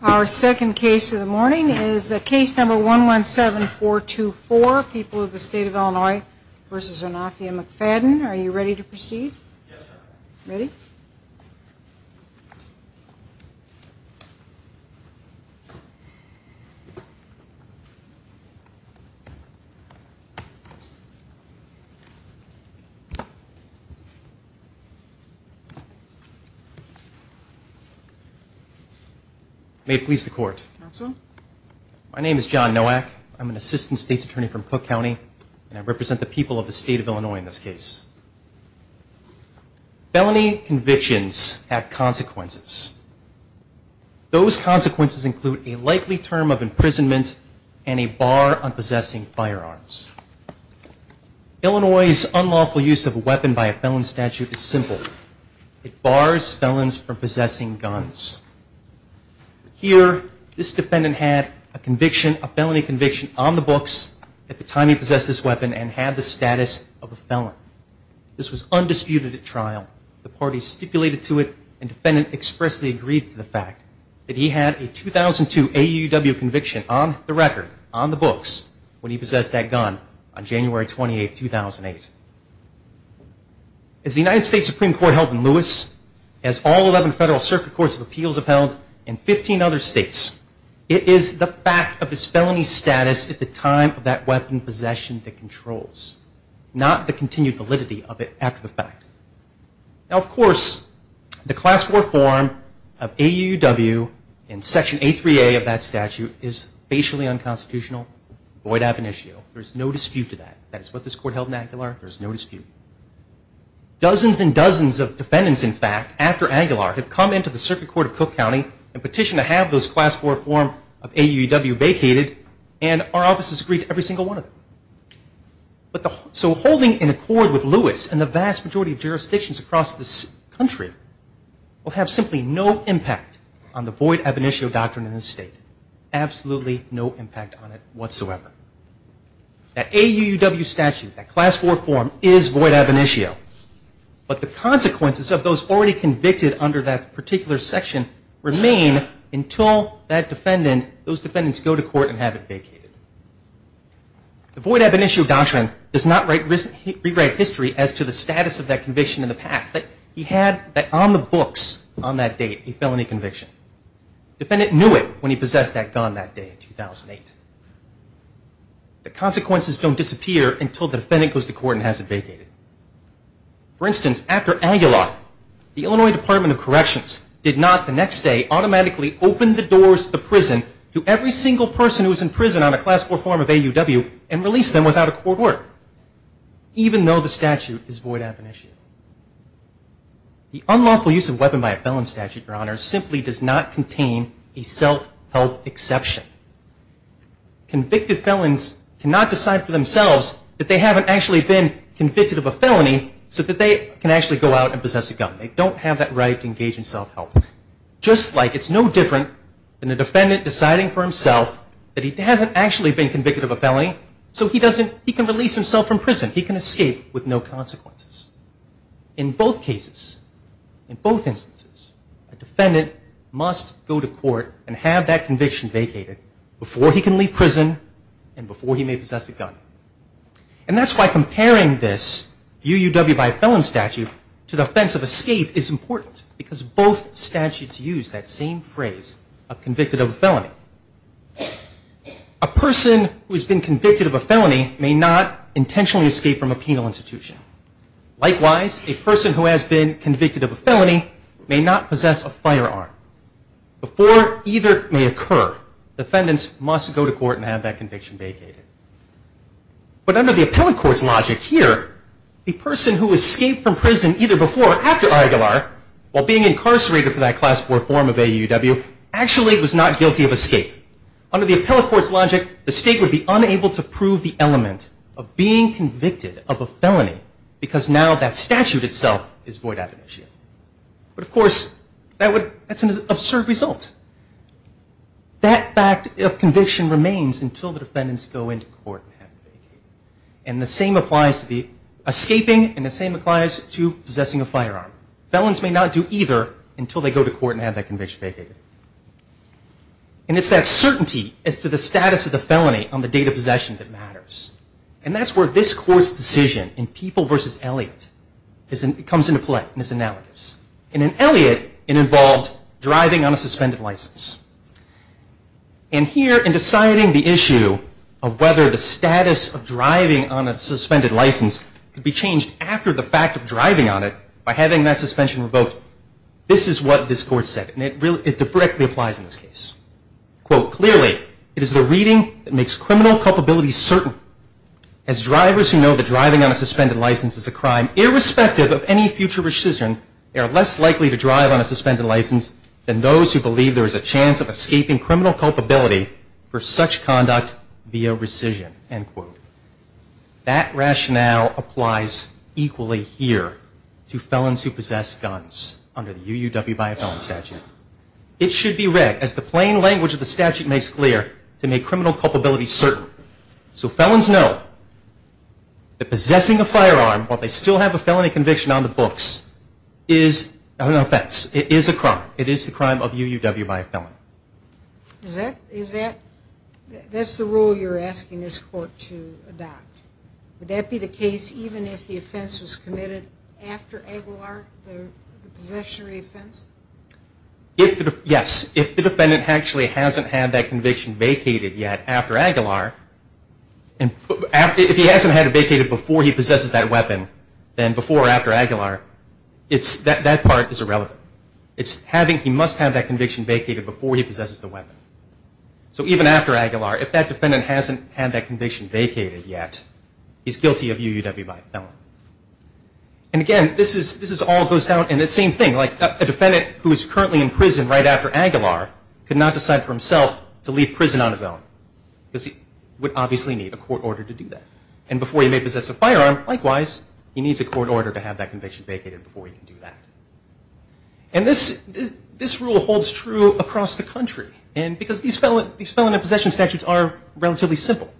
Our second case of the morning is case number 117424, People of the State of Illinois v. Zanoffia McFadden. Are you ready to proceed? May it please the court. My name is John Nowak. I'm an assistant state's attorney from Cook County, and I represent the people of the state of Illinois in this case. Felony convictions have consequences. Those consequences include a likely term of imprisonment and a bar on possessing firearms. Illinois' unlawful use of a weapon by a felon statute is simple. It bars felons from possessing guns. Here, this defendant had a conviction, a felony conviction on the books at the time he possessed this weapon and had the status of a felon. This was undisputed at trial. The party stipulated to it, and the defendant expressly agreed to the fact that he had a 2002 AUW conviction on the record, on the books, when he possessed that gun on January 28, 2008. As the United States Supreme Court held in Lewis, as all 11 federal circuit courts of appeals have held in 15 other states, it is the fact of his felony status at the time of that weapon possession that controls, not the continued validity of it after the fact. Now, of course, the Class IV form of AUW and Section A3A of that statute is facially unconstitutional, void ab initio. There's no dispute to that. That is what this court held in Aguilar. There's no dispute. Dozens and dozens of defendants, in fact, after Aguilar have come into the circuit court of Cook County and petitioned to have those Class IV form of AUW vacated, and our offices agreed to every single one of them. So holding an accord with Lewis and the vast majority of jurisdictions across this country will have simply no impact on the void ab initio doctrine in this state. Absolutely no impact on it whatsoever. That AUW statute, that Class IV form is void ab initio, but the consequences of those already convicted under that particular section remain until that defendant, those defendants go to court and have it vacated. The void ab initio doctrine does not rewrite history as to the status of that conviction in the past. He had that on the books on that date, a felony conviction. Defendant knew it when he possessed that gun that day in 2008. The consequences don't disappear until the defendant goes to court and has it vacated. For instance, after Aguilar, the Illinois Department of Corrections did not, the next day, automatically open the doors to the prison to every single person who was in prison on a Class IV form of AUW and release them without a court order, even though the statute is void ab initio. The unlawful use of a weapon by a felon statute, Your Honor, simply does not contain a self-help exception. Convicted felons cannot decide for themselves that they haven't actually been convicted of a felony so that they can actually go out and possess a gun. They don't have that right to engage in self-help. Just like it's no different than a defendant deciding for himself that he hasn't actually been convicted of a felony so he can release himself from prison. He can escape with no consequences. In both cases, in both instances, a defendant must go to court and have that conviction vacated before he can leave prison and before he may possess a gun. And that's why comparing this AUW by a felon statute to the offense of escape is important because both statutes use that same phrase of convicted of a felony. A person who has been convicted of a felony may not intentionally escape from a penal institution. Likewise, a person who has been convicted of a felony may not possess a firearm. Before either may occur, defendants must go to court and have that conviction vacated. But under the appellate court's logic here, the person who escaped from prison either before or after Aiguilar, while being incarcerated for that class 4 form of AUW, actually was not guilty of escape. Under the appellate court's logic, the state would be unable to prove the element of being convicted of a felony because now that statute itself is void admonition. But of course, that's an absurd result. That fact of conviction remains until the defendants go into court and have it vacated. And the same applies to escaping and the same applies to possessing a firearm. Felons may not do either until they go to court and have that conviction vacated. And it's that certainty as to the status of the felony on the date of possession that matters. And that's where this court's decision in People v. Elliott comes into play in its analogies. In Elliott, it involved driving on a suspended license. And here, in deciding the issue of whether the status of driving on a suspended license could be changed after the fact of driving on it by having that suspension revoked, this is what this court said, and it directly applies in this case. Quote, clearly, it is the reading that makes criminal culpability certain. As drivers who know that driving on a suspended license is a crime, irrespective of any future rescission, they are less likely to drive on a suspended license than those who believe there is a chance of escaping criminal culpability for such conduct via rescission, end quote. That rationale applies equally here to felons who possess guns under the UUW by a felon statute. It should be read, as the plain language of the statute makes clear, to make criminal culpability certain. So felons know that possessing a firearm while they still have a felony conviction on the books is an offense, it is a crime, it is the crime of UUW by a felon. Is that, is that, that's the rule you're asking this court to adopt? Would that be the case even if the offense was committed after Aguilar, the possessionary offense? If, yes, if the defendant actually hasn't had that conviction vacated yet after Aguilar, if he hasn't had it vacated before he possesses that weapon, then before or after Aguilar, it's, that part is irrelevant. It's having, he must have that conviction vacated before he possesses the weapon. So even after Aguilar, if that defendant hasn't had that conviction vacated yet, he's guilty of UUW by a felon. And again, this is, this all goes down in the same thing, like a defendant who is currently in prison right after Aguilar could not decide for himself to leave prison on his own because he would obviously need a court order to do that. And before he may possess a firearm, likewise, he needs a court order to have that conviction vacated before he can do that. And this, this rule holds true across the country. And because these felon, these felon and possession statutes are relatively simple.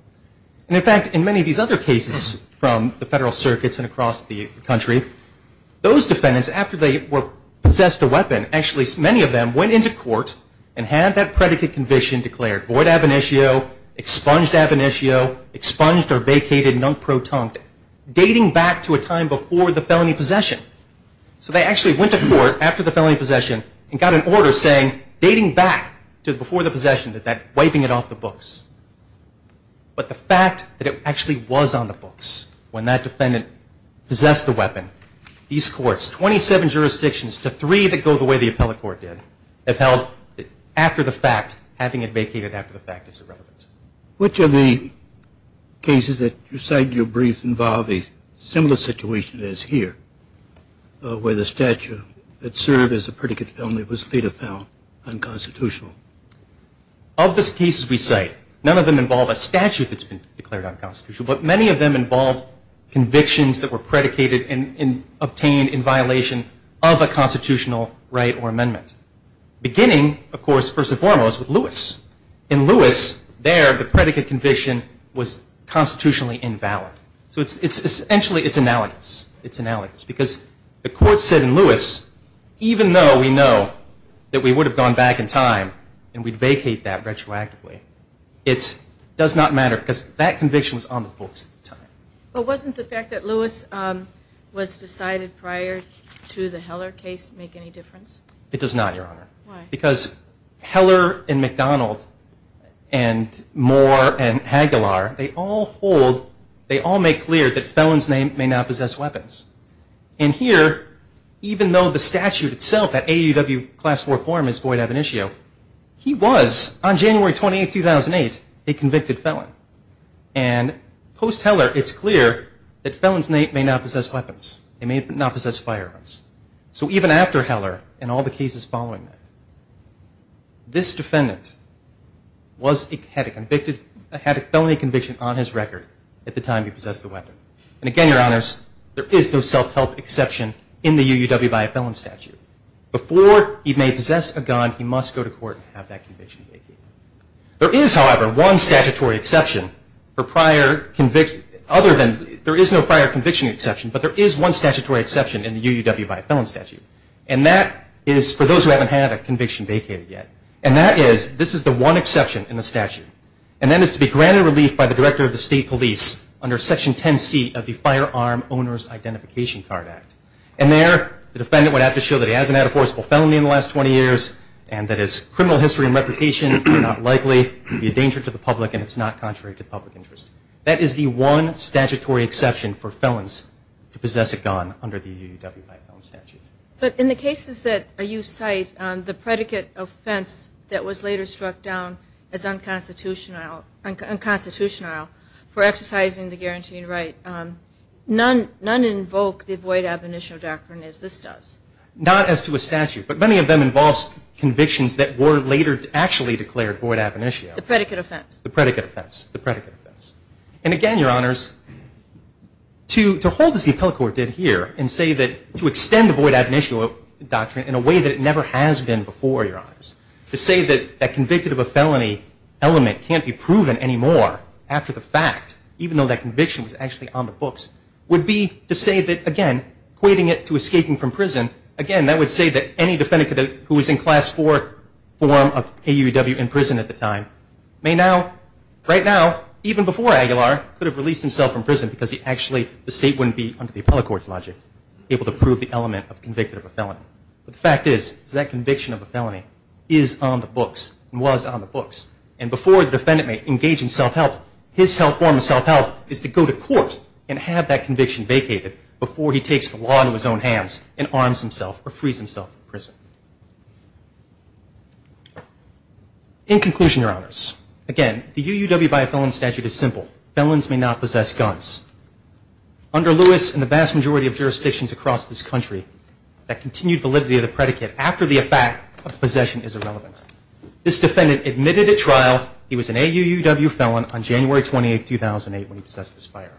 And in fact, in many of these other cases from the federal circuits and across the country, those defendants, after they were, possessed a weapon, actually many of them went into court and had that predicate conviction declared. Void ab initio, expunged ab initio, expunged or vacated non-proton, dating back to a time before the felony possession. So they actually went to court after the felony possession and got an order saying, dating back to before the possession, that that, wiping it off the books. But the fact that it actually was on the books when that defendant possessed the weapon, these courts, 27 jurisdictions to three that go the way the appellate court did, have held, after the fact, having it vacated after the fact is irrelevant. Which of the cases that you cite in your briefs involve a similar situation as here, where the statute that served as a predicate felony was later found unconstitutional? Of the cases we cite, none of them involve a statute that's been declared unconstitutional, but many of them involve convictions that were predicated and, and obtained in violation of a constitutional right or amendment. Beginning, of course, first and foremost, with Lewis. In Lewis, there, the predicate conviction was constitutionally invalid. So it's essentially, it's analogous. It's analogous because the court said in Lewis, even though we know that we would have gone back in time and we'd vacate that retroactively, But wasn't the fact that Lewis was decided prior to the Heller case make any difference? It does not, Your Honor. Why? Because Heller and McDonald and Moore and Hagelar, they all hold, they all make clear that felons may not possess weapons. And here, even though the statute itself, that AUW Class IV form is void of an issue, he was, on January 28, 2008, a convicted felon. And post-Heller, it's clear that felons may not possess weapons. They may not possess firearms. So even after Heller and all the cases following that, this defendant had a felony conviction on his record at the time he possessed the weapon. And again, Your Honors, there is no self-help exception in the AUW by a felon statute. Before he may possess a gun, he must go to court and have that conviction vacated. There is, however, one statutory exception for prior conviction, other than there is no prior conviction exception, but there is one statutory exception in the AUW by a felon statute. And that is for those who haven't had a conviction vacated yet. And that is, this is the one exception in the statute. And that is to be granted relief by the Director of the State Police under Section 10C of the Firearm Owners Identification Card Act. And there, the defendant would have to show that he hasn't had a forcible felony in the last 20 years and that his criminal history and reputation are not likely to be a danger to the public and it's not contrary to public interest. That is the one statutory exception for felons to possess a gun under the AUW by a felon statute. But in the cases that you cite, the predicate offense that was later struck down as unconstitutional for exercising the guaranteed right, none invoke the void abominational doctrine as this does. Not as to a statute, but many of them involve convictions that were later actually declared void abominational. The predicate offense. The predicate offense. The predicate offense. And again, Your Honors, to hold as the appellate court did here and say that to extend the void abominational doctrine in a way that it never has been before, Your Honors, to say that convicted of a felony element can't be proven anymore after the fact, even though that conviction was actually on the books, would be to say that, again, equating it to escaping from prison, again, that would say that any defendant who was in Class 4 form of AUW in prison at the time may now, right now, even before Aguilar, could have released himself from prison because the state wouldn't be, under the appellate court's logic, able to prove the element of convicted of a felony. But the fact is that conviction of a felony is on the books and was on the books. And before the defendant may engage in self-help, his form of self-help is to go to court and have that conviction vacated before he takes the law into his own hands and arms himself or frees himself from prison. In conclusion, Your Honors, again, the AUW by a Felon statute is simple. Felons may not possess guns. Under Lewis and the vast majority of jurisdictions across this country, that continued validity of the predicate after the effect of possession is irrelevant. This defendant admitted at trial he was an AUW felon on January 28, 2008, when he possessed this firearm.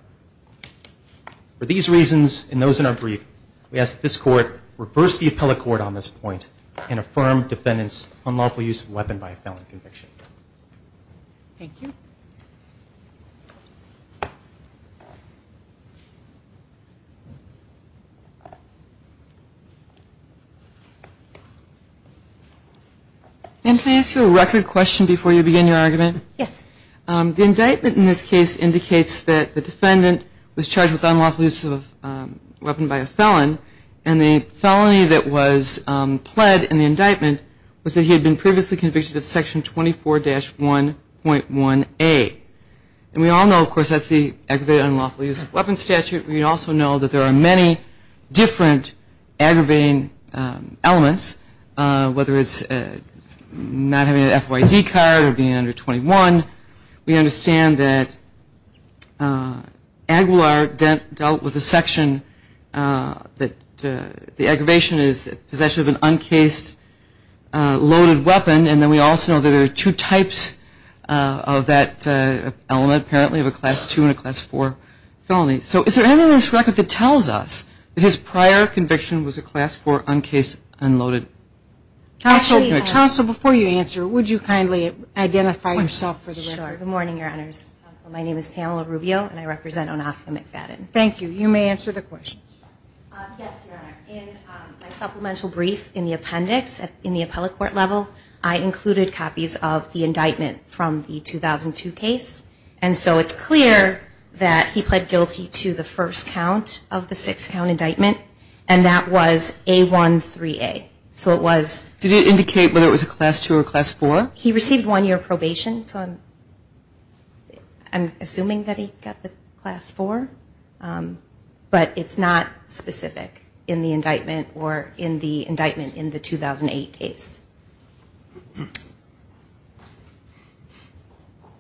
For these reasons and those in our brief, we ask that this court reverse the appellate court on this point and affirm defendant's unlawful use of a weapon by a felon conviction. Thank you. Ma'am, can I ask you a record question before you begin your argument? Yes. The indictment in this case indicates that the defendant was charged with unlawful use of a weapon by a felon, and the felony that was pled in the indictment was that he had been previously convicted of Section 24-1.1A. And we all know, of course, that's the aggravated unlawful use of weapon statute. We also know that there are many different aggravating elements, whether it's not having an FYD card or being under 21. We understand that Aguilar dealt with a section that the aggravation is possession of an uncased loaded weapon, and then we also know that there are two types of that element, apparently of a Class II and a Class IV felony. Okay, so is there anything in this record that tells us that his prior conviction was a Class IV uncased unloaded? Counsel, before you answer, would you kindly identify yourself for the record? Sure. Good morning, Your Honors. My name is Pamela Rubio, and I represent Onofre McFadden. Thank you. You may answer the question. Yes, Your Honor. In my supplemental brief in the appendix in the appellate court level, I included copies of the indictment from the 2002 case, and so it's clear that he pled guilty to the first count of the six-count indictment, and that was A13A. Did it indicate whether it was a Class II or a Class IV? He received one year probation, so I'm assuming that he got the Class IV, but it's not specific in the indictment or in the indictment in the 2008 case.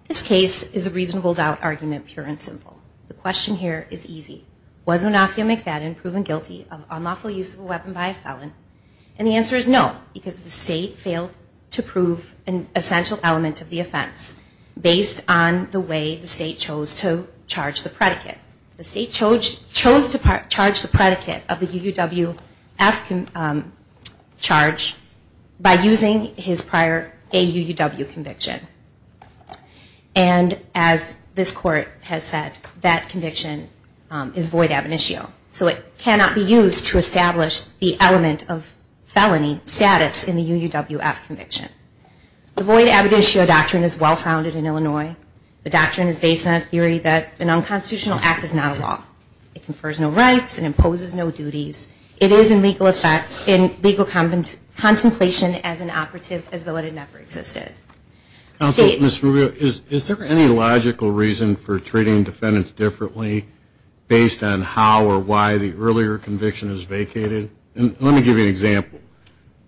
This case is a reasonable-doubt argument, pure and simple. The question here is easy. Was Onofre McFadden proven guilty of unlawful use of a weapon by a felon? And the answer is no, because the state failed to prove an essential element of the offense based on the way the state chose to charge the predicate. The state chose to charge the predicate of the UUWF charge by using his prior AUUW conviction. And as this court has said, that conviction is void ab initio, so it cannot be used to establish the element of felony status in the UUWF conviction. The void ab initio doctrine is well-founded in Illinois. The doctrine is based on a theory that an unconstitutional act is not a law. It confers no rights and imposes no duties. It is in legal contemplation as an operative as though it never existed. Counsel, Ms. Rubio, is there any logical reason for treating defendants differently based on how or why the earlier conviction is vacated? Let me give you an example.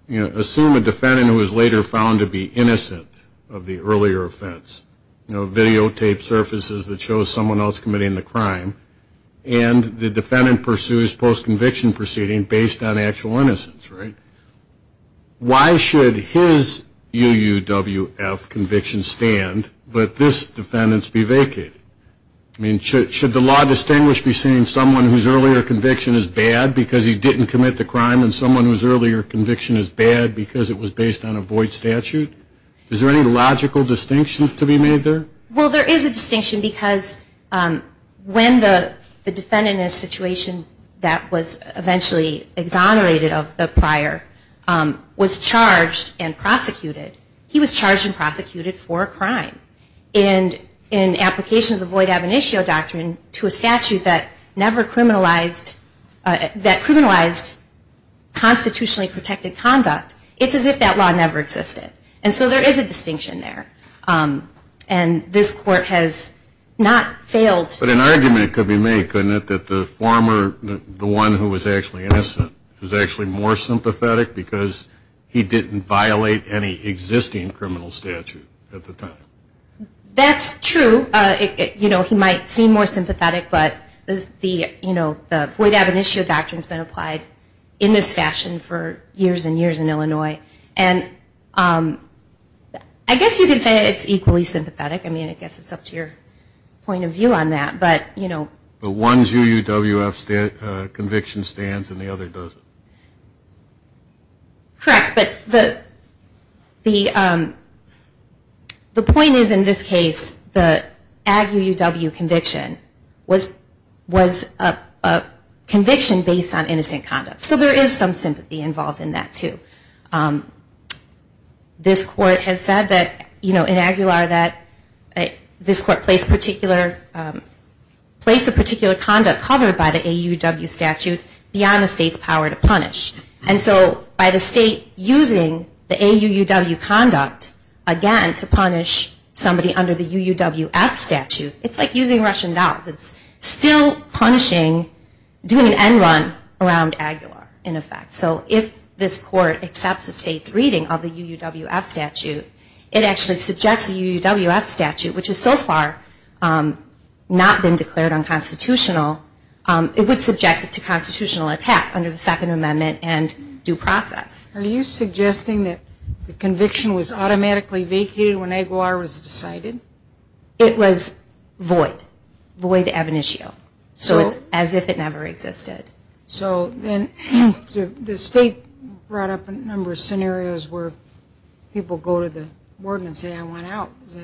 Assume a defendant who is later found to be innocent of the earlier offense. A videotape surfaces that shows someone else committing the crime, and the defendant pursues post-conviction proceeding based on actual innocence. Why should his UUWF conviction stand but this defendant's be vacated? Should the law distinguish between someone whose earlier conviction is bad because he didn't commit the crime and someone whose earlier conviction is bad because it was based on a void statute? Is there any logical distinction to be made there? Well, there is a distinction because when the defendant in a situation that was eventually exonerated of the prior was charged and prosecuted, he was charged and prosecuted for a crime. And in application of the void ab initio doctrine to a statute that criminalized constitutionally protected conduct, it's as if that law never existed. And so there is a distinction there. And this court has not failed. But an argument could be made, couldn't it, that the former, the one who was actually innocent, was actually more sympathetic because he didn't violate any existing criminal statute at the time. That's true. You know, he might seem more sympathetic, but the void ab initio doctrine has been applied in this fashion for years and years in Illinois. And I guess you could say it's equally sympathetic. I mean, I guess it's up to your point of view on that. But, you know. But one's UUWF conviction stands and the other doesn't. Correct. But the point is, in this case, the ag UUW conviction was a conviction based on innocent conduct. So there is some sympathy involved in that, too. This court has said that, you know, in Aguilar, that this court placed a particular conduct covered by the AUW statute beyond the state's power to punish. And so by the state using the AUUW conduct, again, to punish somebody under the UUWF statute, it's like using Russian dolls. It's still punishing, doing an end run around Aguilar, in effect. So if this court accepts the state's reading of the UUWF statute, it actually subjects the UUWF statute, which has so far not been declared unconstitutional, it would subject it to constitutional attack under the Second Amendment and due process. Are you suggesting that the conviction was automatically vacated when Aguilar was decided? It was void. Void ab initio. So it's as if it never existed. So then the state brought up a number of scenarios where people go to the warden and say, I want out. Is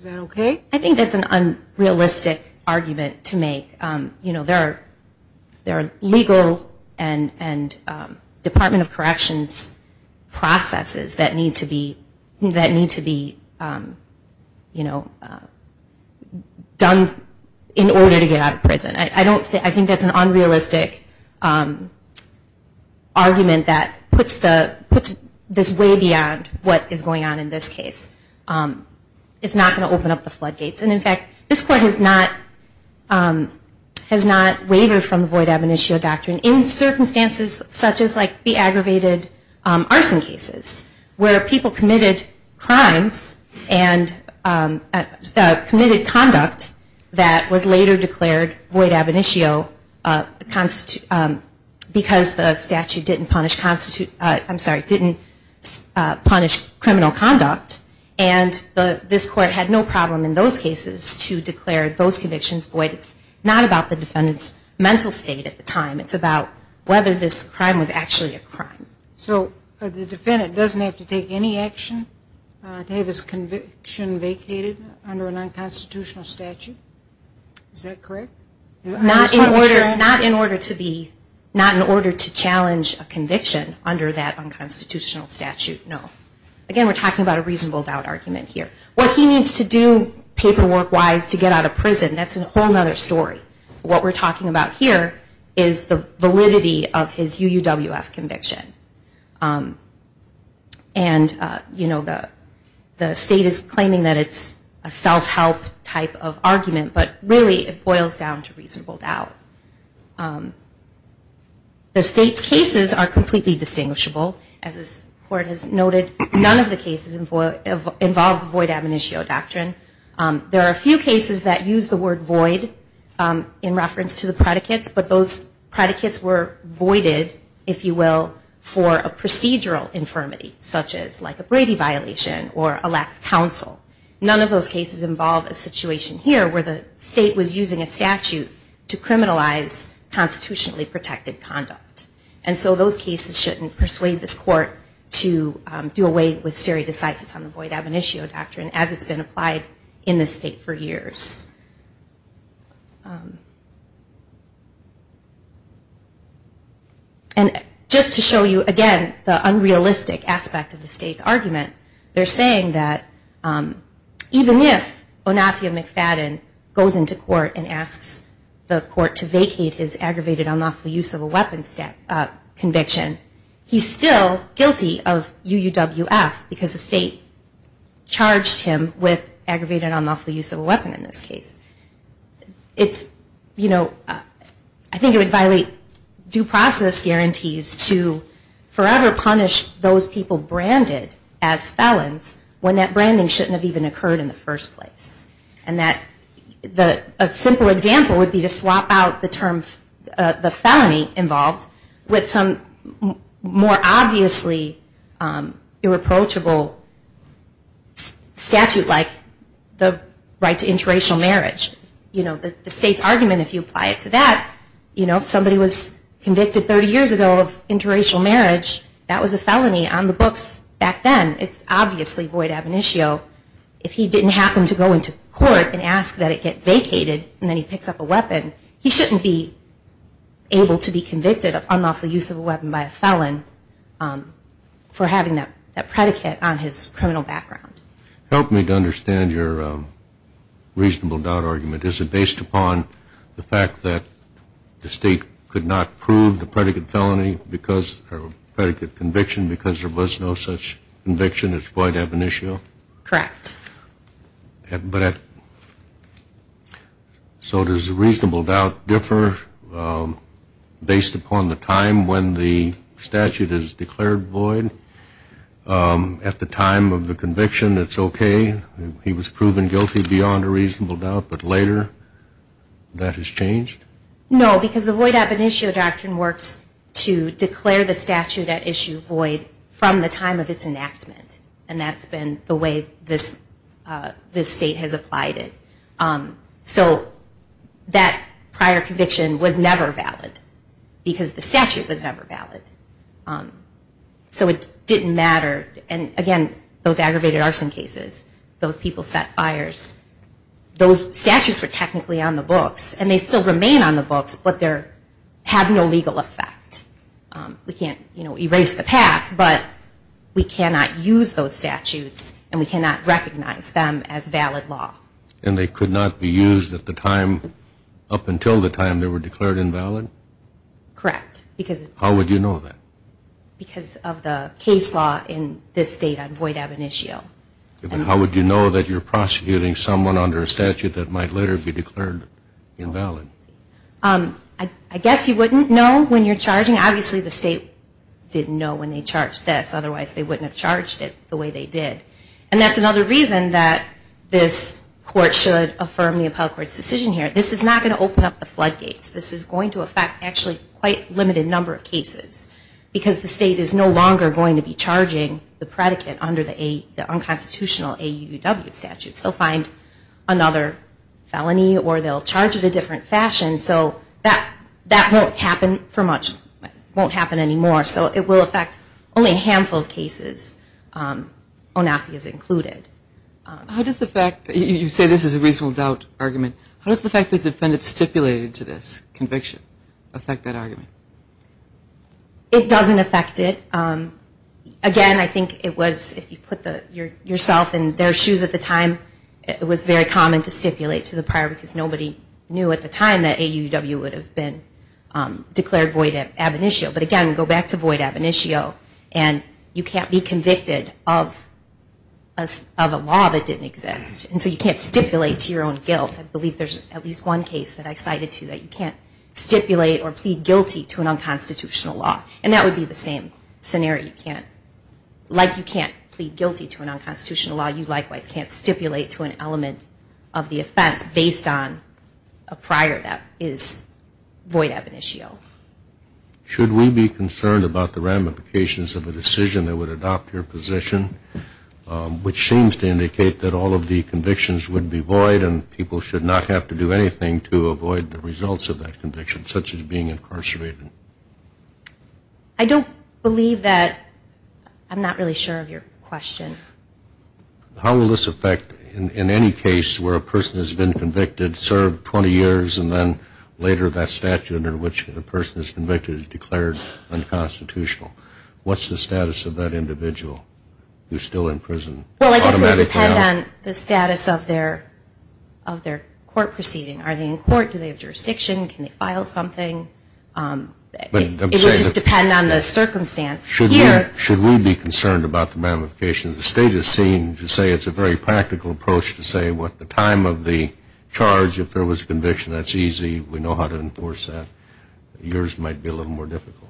that okay? I think that's an unrealistic argument to make. There are legal and Department of Corrections processes that need to be done in order to get out of prison. I think that's an unrealistic argument that puts this way beyond what is going on in this case. It's not going to open up the floodgates. In fact, this court has not wavered from the void ab initio doctrine in circumstances such as the aggravated arson cases where people committed crimes and committed conduct that was later declared void ab initio because the statute didn't punish criminal conduct. And this court had no problem in those cases to declare those convictions void. It's not about the defendant's mental state at the time. It's about whether this crime was actually a crime. So the defendant doesn't have to take any action to have his conviction vacated under an unconstitutional statute? Is that correct? Not in order to challenge a conviction under that unconstitutional statute, no. Again, we're talking about a reasonable doubt argument here. What he needs to do paperwork-wise to get out of prison, that's a whole other story. What we're talking about here is the validity of his UUWF conviction. And the state is claiming that it's a self-help type of argument, but really it boils down to reasonable doubt. The state's cases are completely distinguishable. As this court has noted, none of the cases involve void ab initio doctrine. There are a few cases that use the word void in reference to the predicates, but those predicates were voided, if you will, for a procedural infirmity, such as like a Brady violation or a lack of counsel. None of those cases involve a situation here, where the state was using a statute to criminalize constitutionally protected conduct. And so those cases shouldn't persuade this court to do away with stare decisis on the void ab initio doctrine as it's been applied in this state for years. And just to show you again the unrealistic aspect of the state's argument, they're saying that even if Onafia McFadden goes into court and asks the court to vacate his aggravated unlawful use of a weapon conviction, he's still guilty of UUWF because the state charged him with aggravated unlawful use of a weapon in this case. I think it would violate due process guarantees to forever punish those people branded as felons when that branding shouldn't have even occurred in the first place. A simple example would be to swap out the term felony involved with some more obviously irreproachable statute like the right to interracial marriage. The state's argument, if you apply it to that, if somebody was convicted 30 years ago of interracial marriage, that was a felony on the books back then, it's obviously void ab initio. If he didn't happen to go into court and ask that it get vacated and then he picks up a weapon, he shouldn't be able to be convicted of unlawful use of a weapon by a felon for having that predicate on his criminal background. Help me to understand your reasonable doubt argument. Is it based upon the fact that the state could not prove the predicate felony or predicate conviction because there was no such conviction as void ab initio? Correct. So does the reasonable doubt differ based upon the time when the statute is declared void? At the time of the conviction it's okay, he was proven guilty beyond a reasonable doubt, but later that has changed? No, because the void ab initio doctrine works to declare the statute at issue void from the time of its enactment, and that's been the way this state has applied it. So that prior conviction was never valid because the statute was never valid. So it didn't matter, and again, those aggravated arson cases, those people set fires, those statutes were technically on the books and they still remain on the books, but they have no legal effect. We can't erase the past, but we cannot use those statutes and we cannot recognize them as valid law. And they could not be used up until the time they were declared invalid? Correct. How would you know that? Because of the case law in this state on void ab initio. And how would you know that you're prosecuting someone under a statute that might later be declared invalid? I guess you wouldn't know when you're charging. Obviously the state didn't know when they charged this, otherwise they wouldn't have charged it the way they did. And that's another reason that this court should affirm the appellate court's decision here. This is not going to open up the floodgates. This is going to affect quite a limited number of cases because the state is no longer going to be charging the predicate under the unconstitutional AUDW statute. They'll find another felony or they'll charge it a different fashion, so that won't happen for much, won't happen anymore. So it will affect only a handful of cases, ONAFI is included. How does the fact that you say this is a reasonable doubt argument, how does the fact that the defendant stipulated to this conviction affect that argument? It doesn't affect it. Again, I think it was, if you put yourself in their shoes at the time, it was very common to stipulate to the prior because nobody knew at the time that AUDW would have been declared void ab initio. But again, go back to void ab initio and you can't be convicted of a law that didn't exist. And so you can't stipulate to your own guilt. I believe there's at least one case that I cited to that you can't stipulate or plead guilty to an unconstitutional law. And that would be the same scenario. You can't, like you can't plead guilty to an unconstitutional law, you likewise can't stipulate to an element of the offense based on a prior that is void ab initio. Should we be concerned about the ramifications of a decision that would adopt your position, which seems to indicate that all of the convictions would be void and people should not have to do anything to avoid the results of that conviction, such as being incarcerated? I don't believe that. I'm not really sure of your question. How will this affect in any case where a person has been convicted, served 20 years, and then later that statute under which the person is convicted is declared unconstitutional? What's the status of that individual who's still in prison? Well, I guess it would depend on the status of their court proceeding. Are they in court? Do they have jurisdiction? Can they file something? It would just depend on the circumstance. Should we be concerned about the ramifications? The state has seemed to say it's a very practical approach to say what the time of the charge, if there was a conviction, that's easy. We know how to enforce that. Yours might be a little more difficult.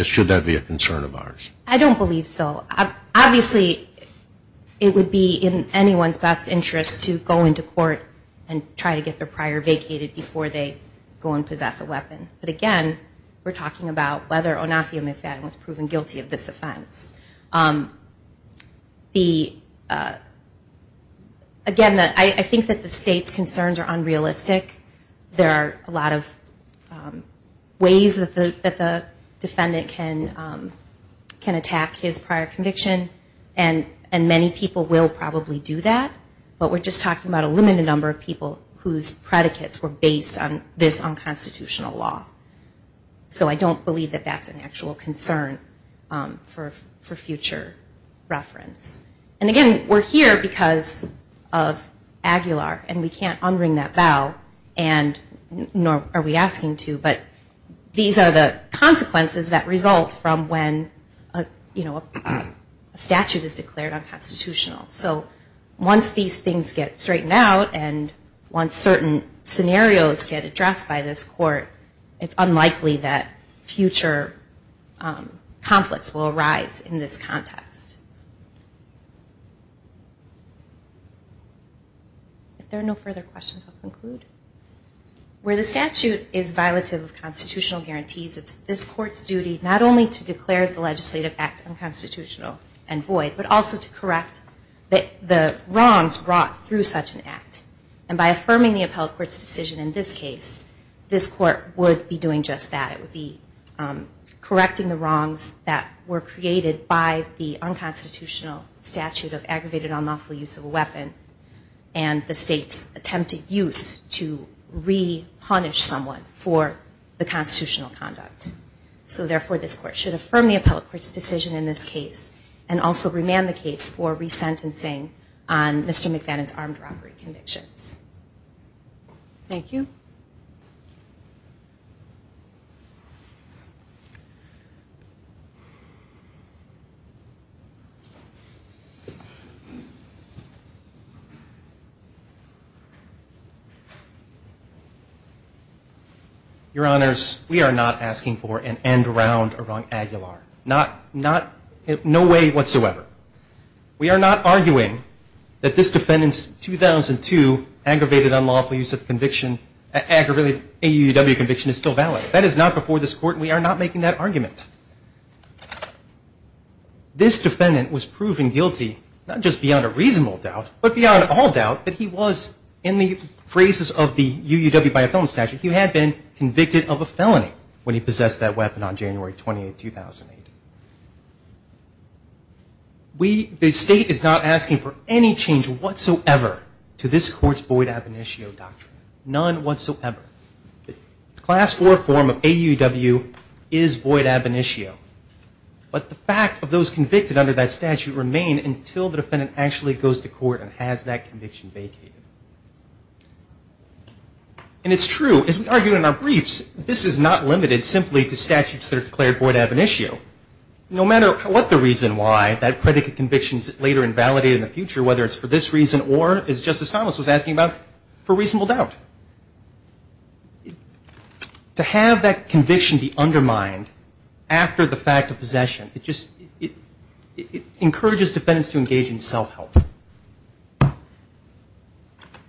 Should that be a concern of ours? I don't believe so. Obviously, it would be in anyone's best interest to go into court and try to get their prior vacated before they go and possess a weapon. But again, we're talking about whether or not the defendant was proven guilty of this offense. Again, I think that the state's concerns are unrealistic. There are a lot of ways that the defendant can attack his prior conviction, and many people will probably do that. But we're just talking about a limited number of people whose predicates were based on this unconstitutional law. So I don't believe that that's an actual concern for future reference. And again, we're here because of Aguilar, and we can't unwring that vow, nor are we asking to, but these are the consequences that result from when a statute is declared unconstitutional. So once these things get straightened out, and once certain scenarios get addressed by this court, it's unlikely that future conflicts will arise in this context. If there are no further questions, I'll conclude. Where the statute is violative of constitutional guarantees, it's this court's duty not only to declare the legislative act unconstitutional and void, but also to correct the wrongs brought through such an act. And by affirming the appellate court's decision in this case, this court would be doing just that. It would be correcting the wrongs that were created by the unconstitutional statute of aggravated unlawful use of a weapon, and the state's attempted use to re-punish someone for the constitutional conduct. So therefore, this court should affirm the appellate court's decision in this case, and also remand the case for resentencing on Mr. McFadden's armed robbery convictions. Thank you. Your Honors, we are not asking for an end round around Aguilar. Not in no way whatsoever. We are not arguing that this defendant's 2002 aggravated unlawful use of conviction, aggravated AUW conviction is still valid. That is not before this court, and we are not making that argument. This defendant was proven guilty, not just beyond a reasonable doubt, but beyond all doubt, that he was, in the phrases of the UUW by a felon statute, he had been convicted of a felony when he possessed that weapon on January 28, 2008. The state is not asking for any change whatsoever to this court's void ab initio doctrine. None whatsoever. Class IV form of AUW is void ab initio, but the fact of those convicted under that statute remain until the defendant actually goes to court and has that conviction vacated. And it's true, as we argue in our briefs, this is not limited simply to statutes that are declared void ab initio. No matter what the reason why, that predicate conviction is later invalidated in the future, whether it's for this reason or, as Justice Thomas was asking about, for reasonable doubt. To have that conviction be undermined after the fact of possession, it encourages defendants to engage in self-help.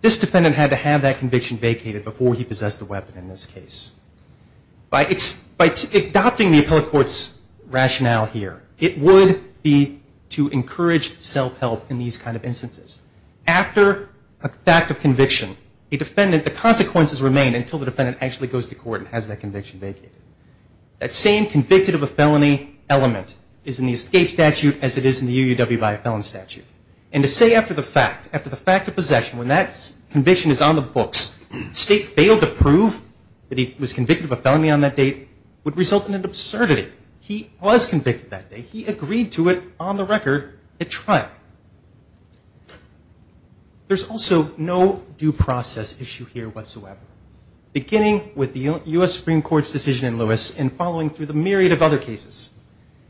This defendant had to have that conviction vacated before he possessed the weapon in this case. By adopting the appellate court's rationale here, it would be to encourage self-help in these kind of instances. After a fact of conviction, the consequences remain until the defendant actually goes to court and has that conviction vacated. That same convicted of a felony element is in the escape statute as it is in the AUW by a felon statute. And to say after the fact, after the fact of possession, when that conviction is on the books, the state failed to prove that he was convicted of a felony on that date would result in an absurdity. He was convicted that day. He agreed to it on the record at trial. There's also no due process issue here whatsoever, beginning with the U.S. Supreme Court's decision in Lewis and following through the myriad of other cases.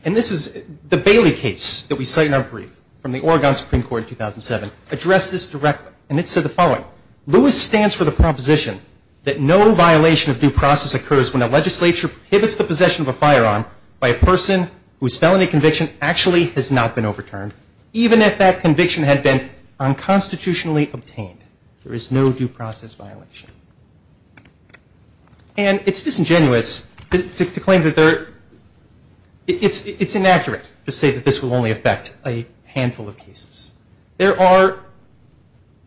And this is the Bailey case that we cite in our brief from the Oregon Supreme Court in 2007 addressed this directly. And it said the following. Lewis stands for the proposition that no violation of due process occurs when a legislature prohibits the possession of a firearm by a person whose felony conviction actually has not been overturned, even if that conviction had been unconstitutionally obtained. There is no due process violation. And it's disingenuous to claim that there, it's inaccurate to say that this will only affect a handful of cases. There are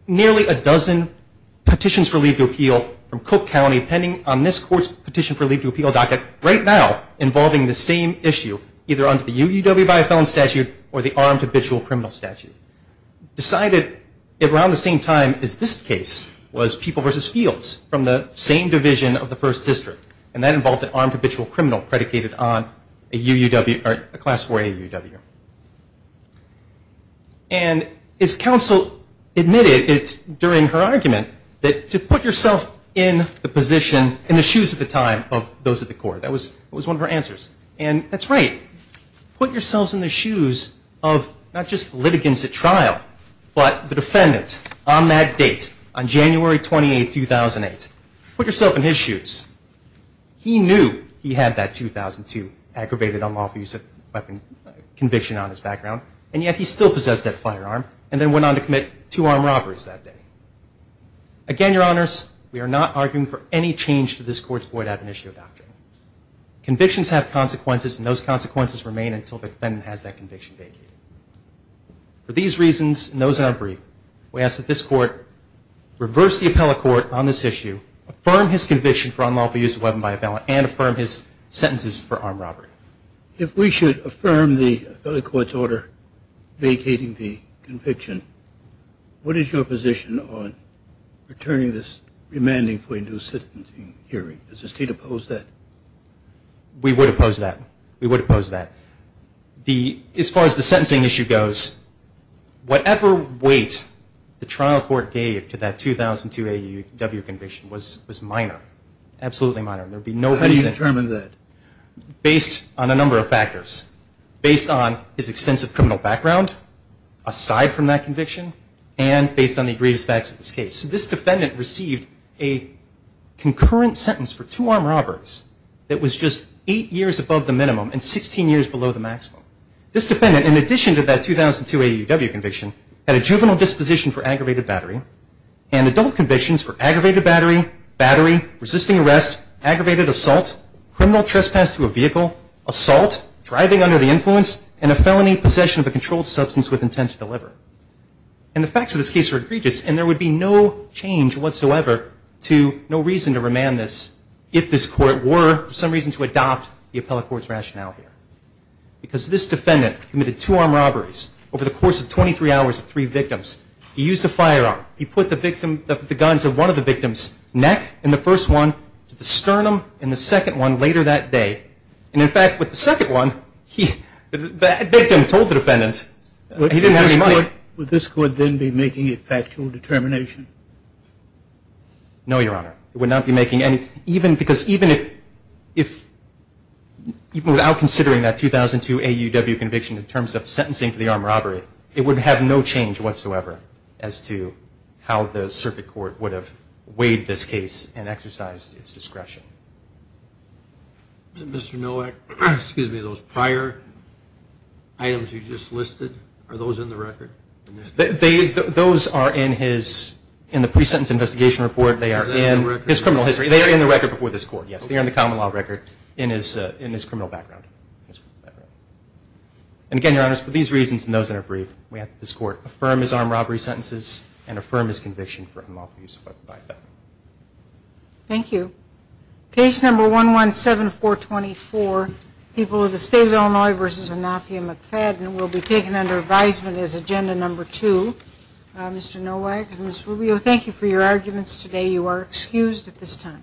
nearly a dozen petitions for leave to appeal from Cook County pending on this court's petition for leave to appeal docket right now involving the same issue, either under the UUW by a felon statute or the armed habitual criminal statute. Decided around the same time as this case was People v. Fields from the same division of the 1st District. And that involved an armed habitual criminal predicated on a UUW or a class 4AUW. And as counsel admitted, it's during her argument, that to put yourself in the position, in the shoes at the time of those at the court, that was one of her answers. And that's right. Put yourselves in the shoes of not just litigants at trial, but the defendant on that date, on January 28, 2008. Put yourself in his shoes. He knew he had that 2002 aggravated unlawful use of weapon conviction on his background. And yet he still possessed that firearm and then went on to commit two armed robberies that day. Again, Your Honors, we are not arguing for any change to this court's void ad venitio doctrine. Convictions have consequences and those consequences remain until the defendant has that conviction vacated. For these reasons and those in our brief, we ask that this court reverse the appellate court on this issue, affirm his conviction for unlawful use of weapon by a felon and affirm his sentences for armed robbery. If we should affirm the appellate court's order vacating the conviction, what is your position on returning this remanding for a new sentencing hearing? Does the state oppose that? We would oppose that. We would oppose that. As far as the sentencing issue goes, whatever weight the trial court gave to that 2002 AUW conviction was minor. Absolutely minor. How do you determine that? Based on a number of factors. Based on his extensive criminal background, aside from that conviction, and based on the grievous facts of this case. This defendant received a concurrent sentence for two armed robberies that was just eight years above the minimum and 16 years below the maximum. This defendant, in addition to that 2002 AUW conviction, had a juvenile disposition for aggravated battery and adult convictions for aggravated battery, battery, resisting arrest, aggravated assault, criminal trespass to a vehicle, assault, driving under the influence, and a felony possession of a controlled substance with intent to deliver. And the facts of this case are egregious, and there would be no change whatsoever to no reason to remand this if this court were for some reason to adopt the appellate court's rationale here. Because this defendant committed two armed robberies over the course of 23 hours of three victims. He used a firearm. He put the gun to one of the victim's neck in the first one, to the sternum in the second one later that day. And in fact, with the second one, the victim told the defendant he didn't have any money. Would this court then be making a factual determination? No, Your Honor. It would not be making any. Because even without considering that 2002 AUW conviction in terms of sentencing for the armed robbery, it would have no change whatsoever as to how the circuit court would have weighed this case and exercised its discretion. Mr. Nowak, those prior items you just listed, are those in the record? Those are in his, in the pre-sentence investigation report. They are in his criminal history. They are in the record before this court, yes. They are in the common law record in his criminal background. And again, Your Honor, for these reasons and those that are brief, we ask that this court affirm his armed robbery sentences and affirm his conviction for unlawful use of a firearm. Thank you. Case number 117424, people of the State of Illinois v. Anafia McFadden, will be taken under advisement as agenda number two. Mr. Nowak and Ms. Rubio, thank you for your arguments today. You are excused at this time.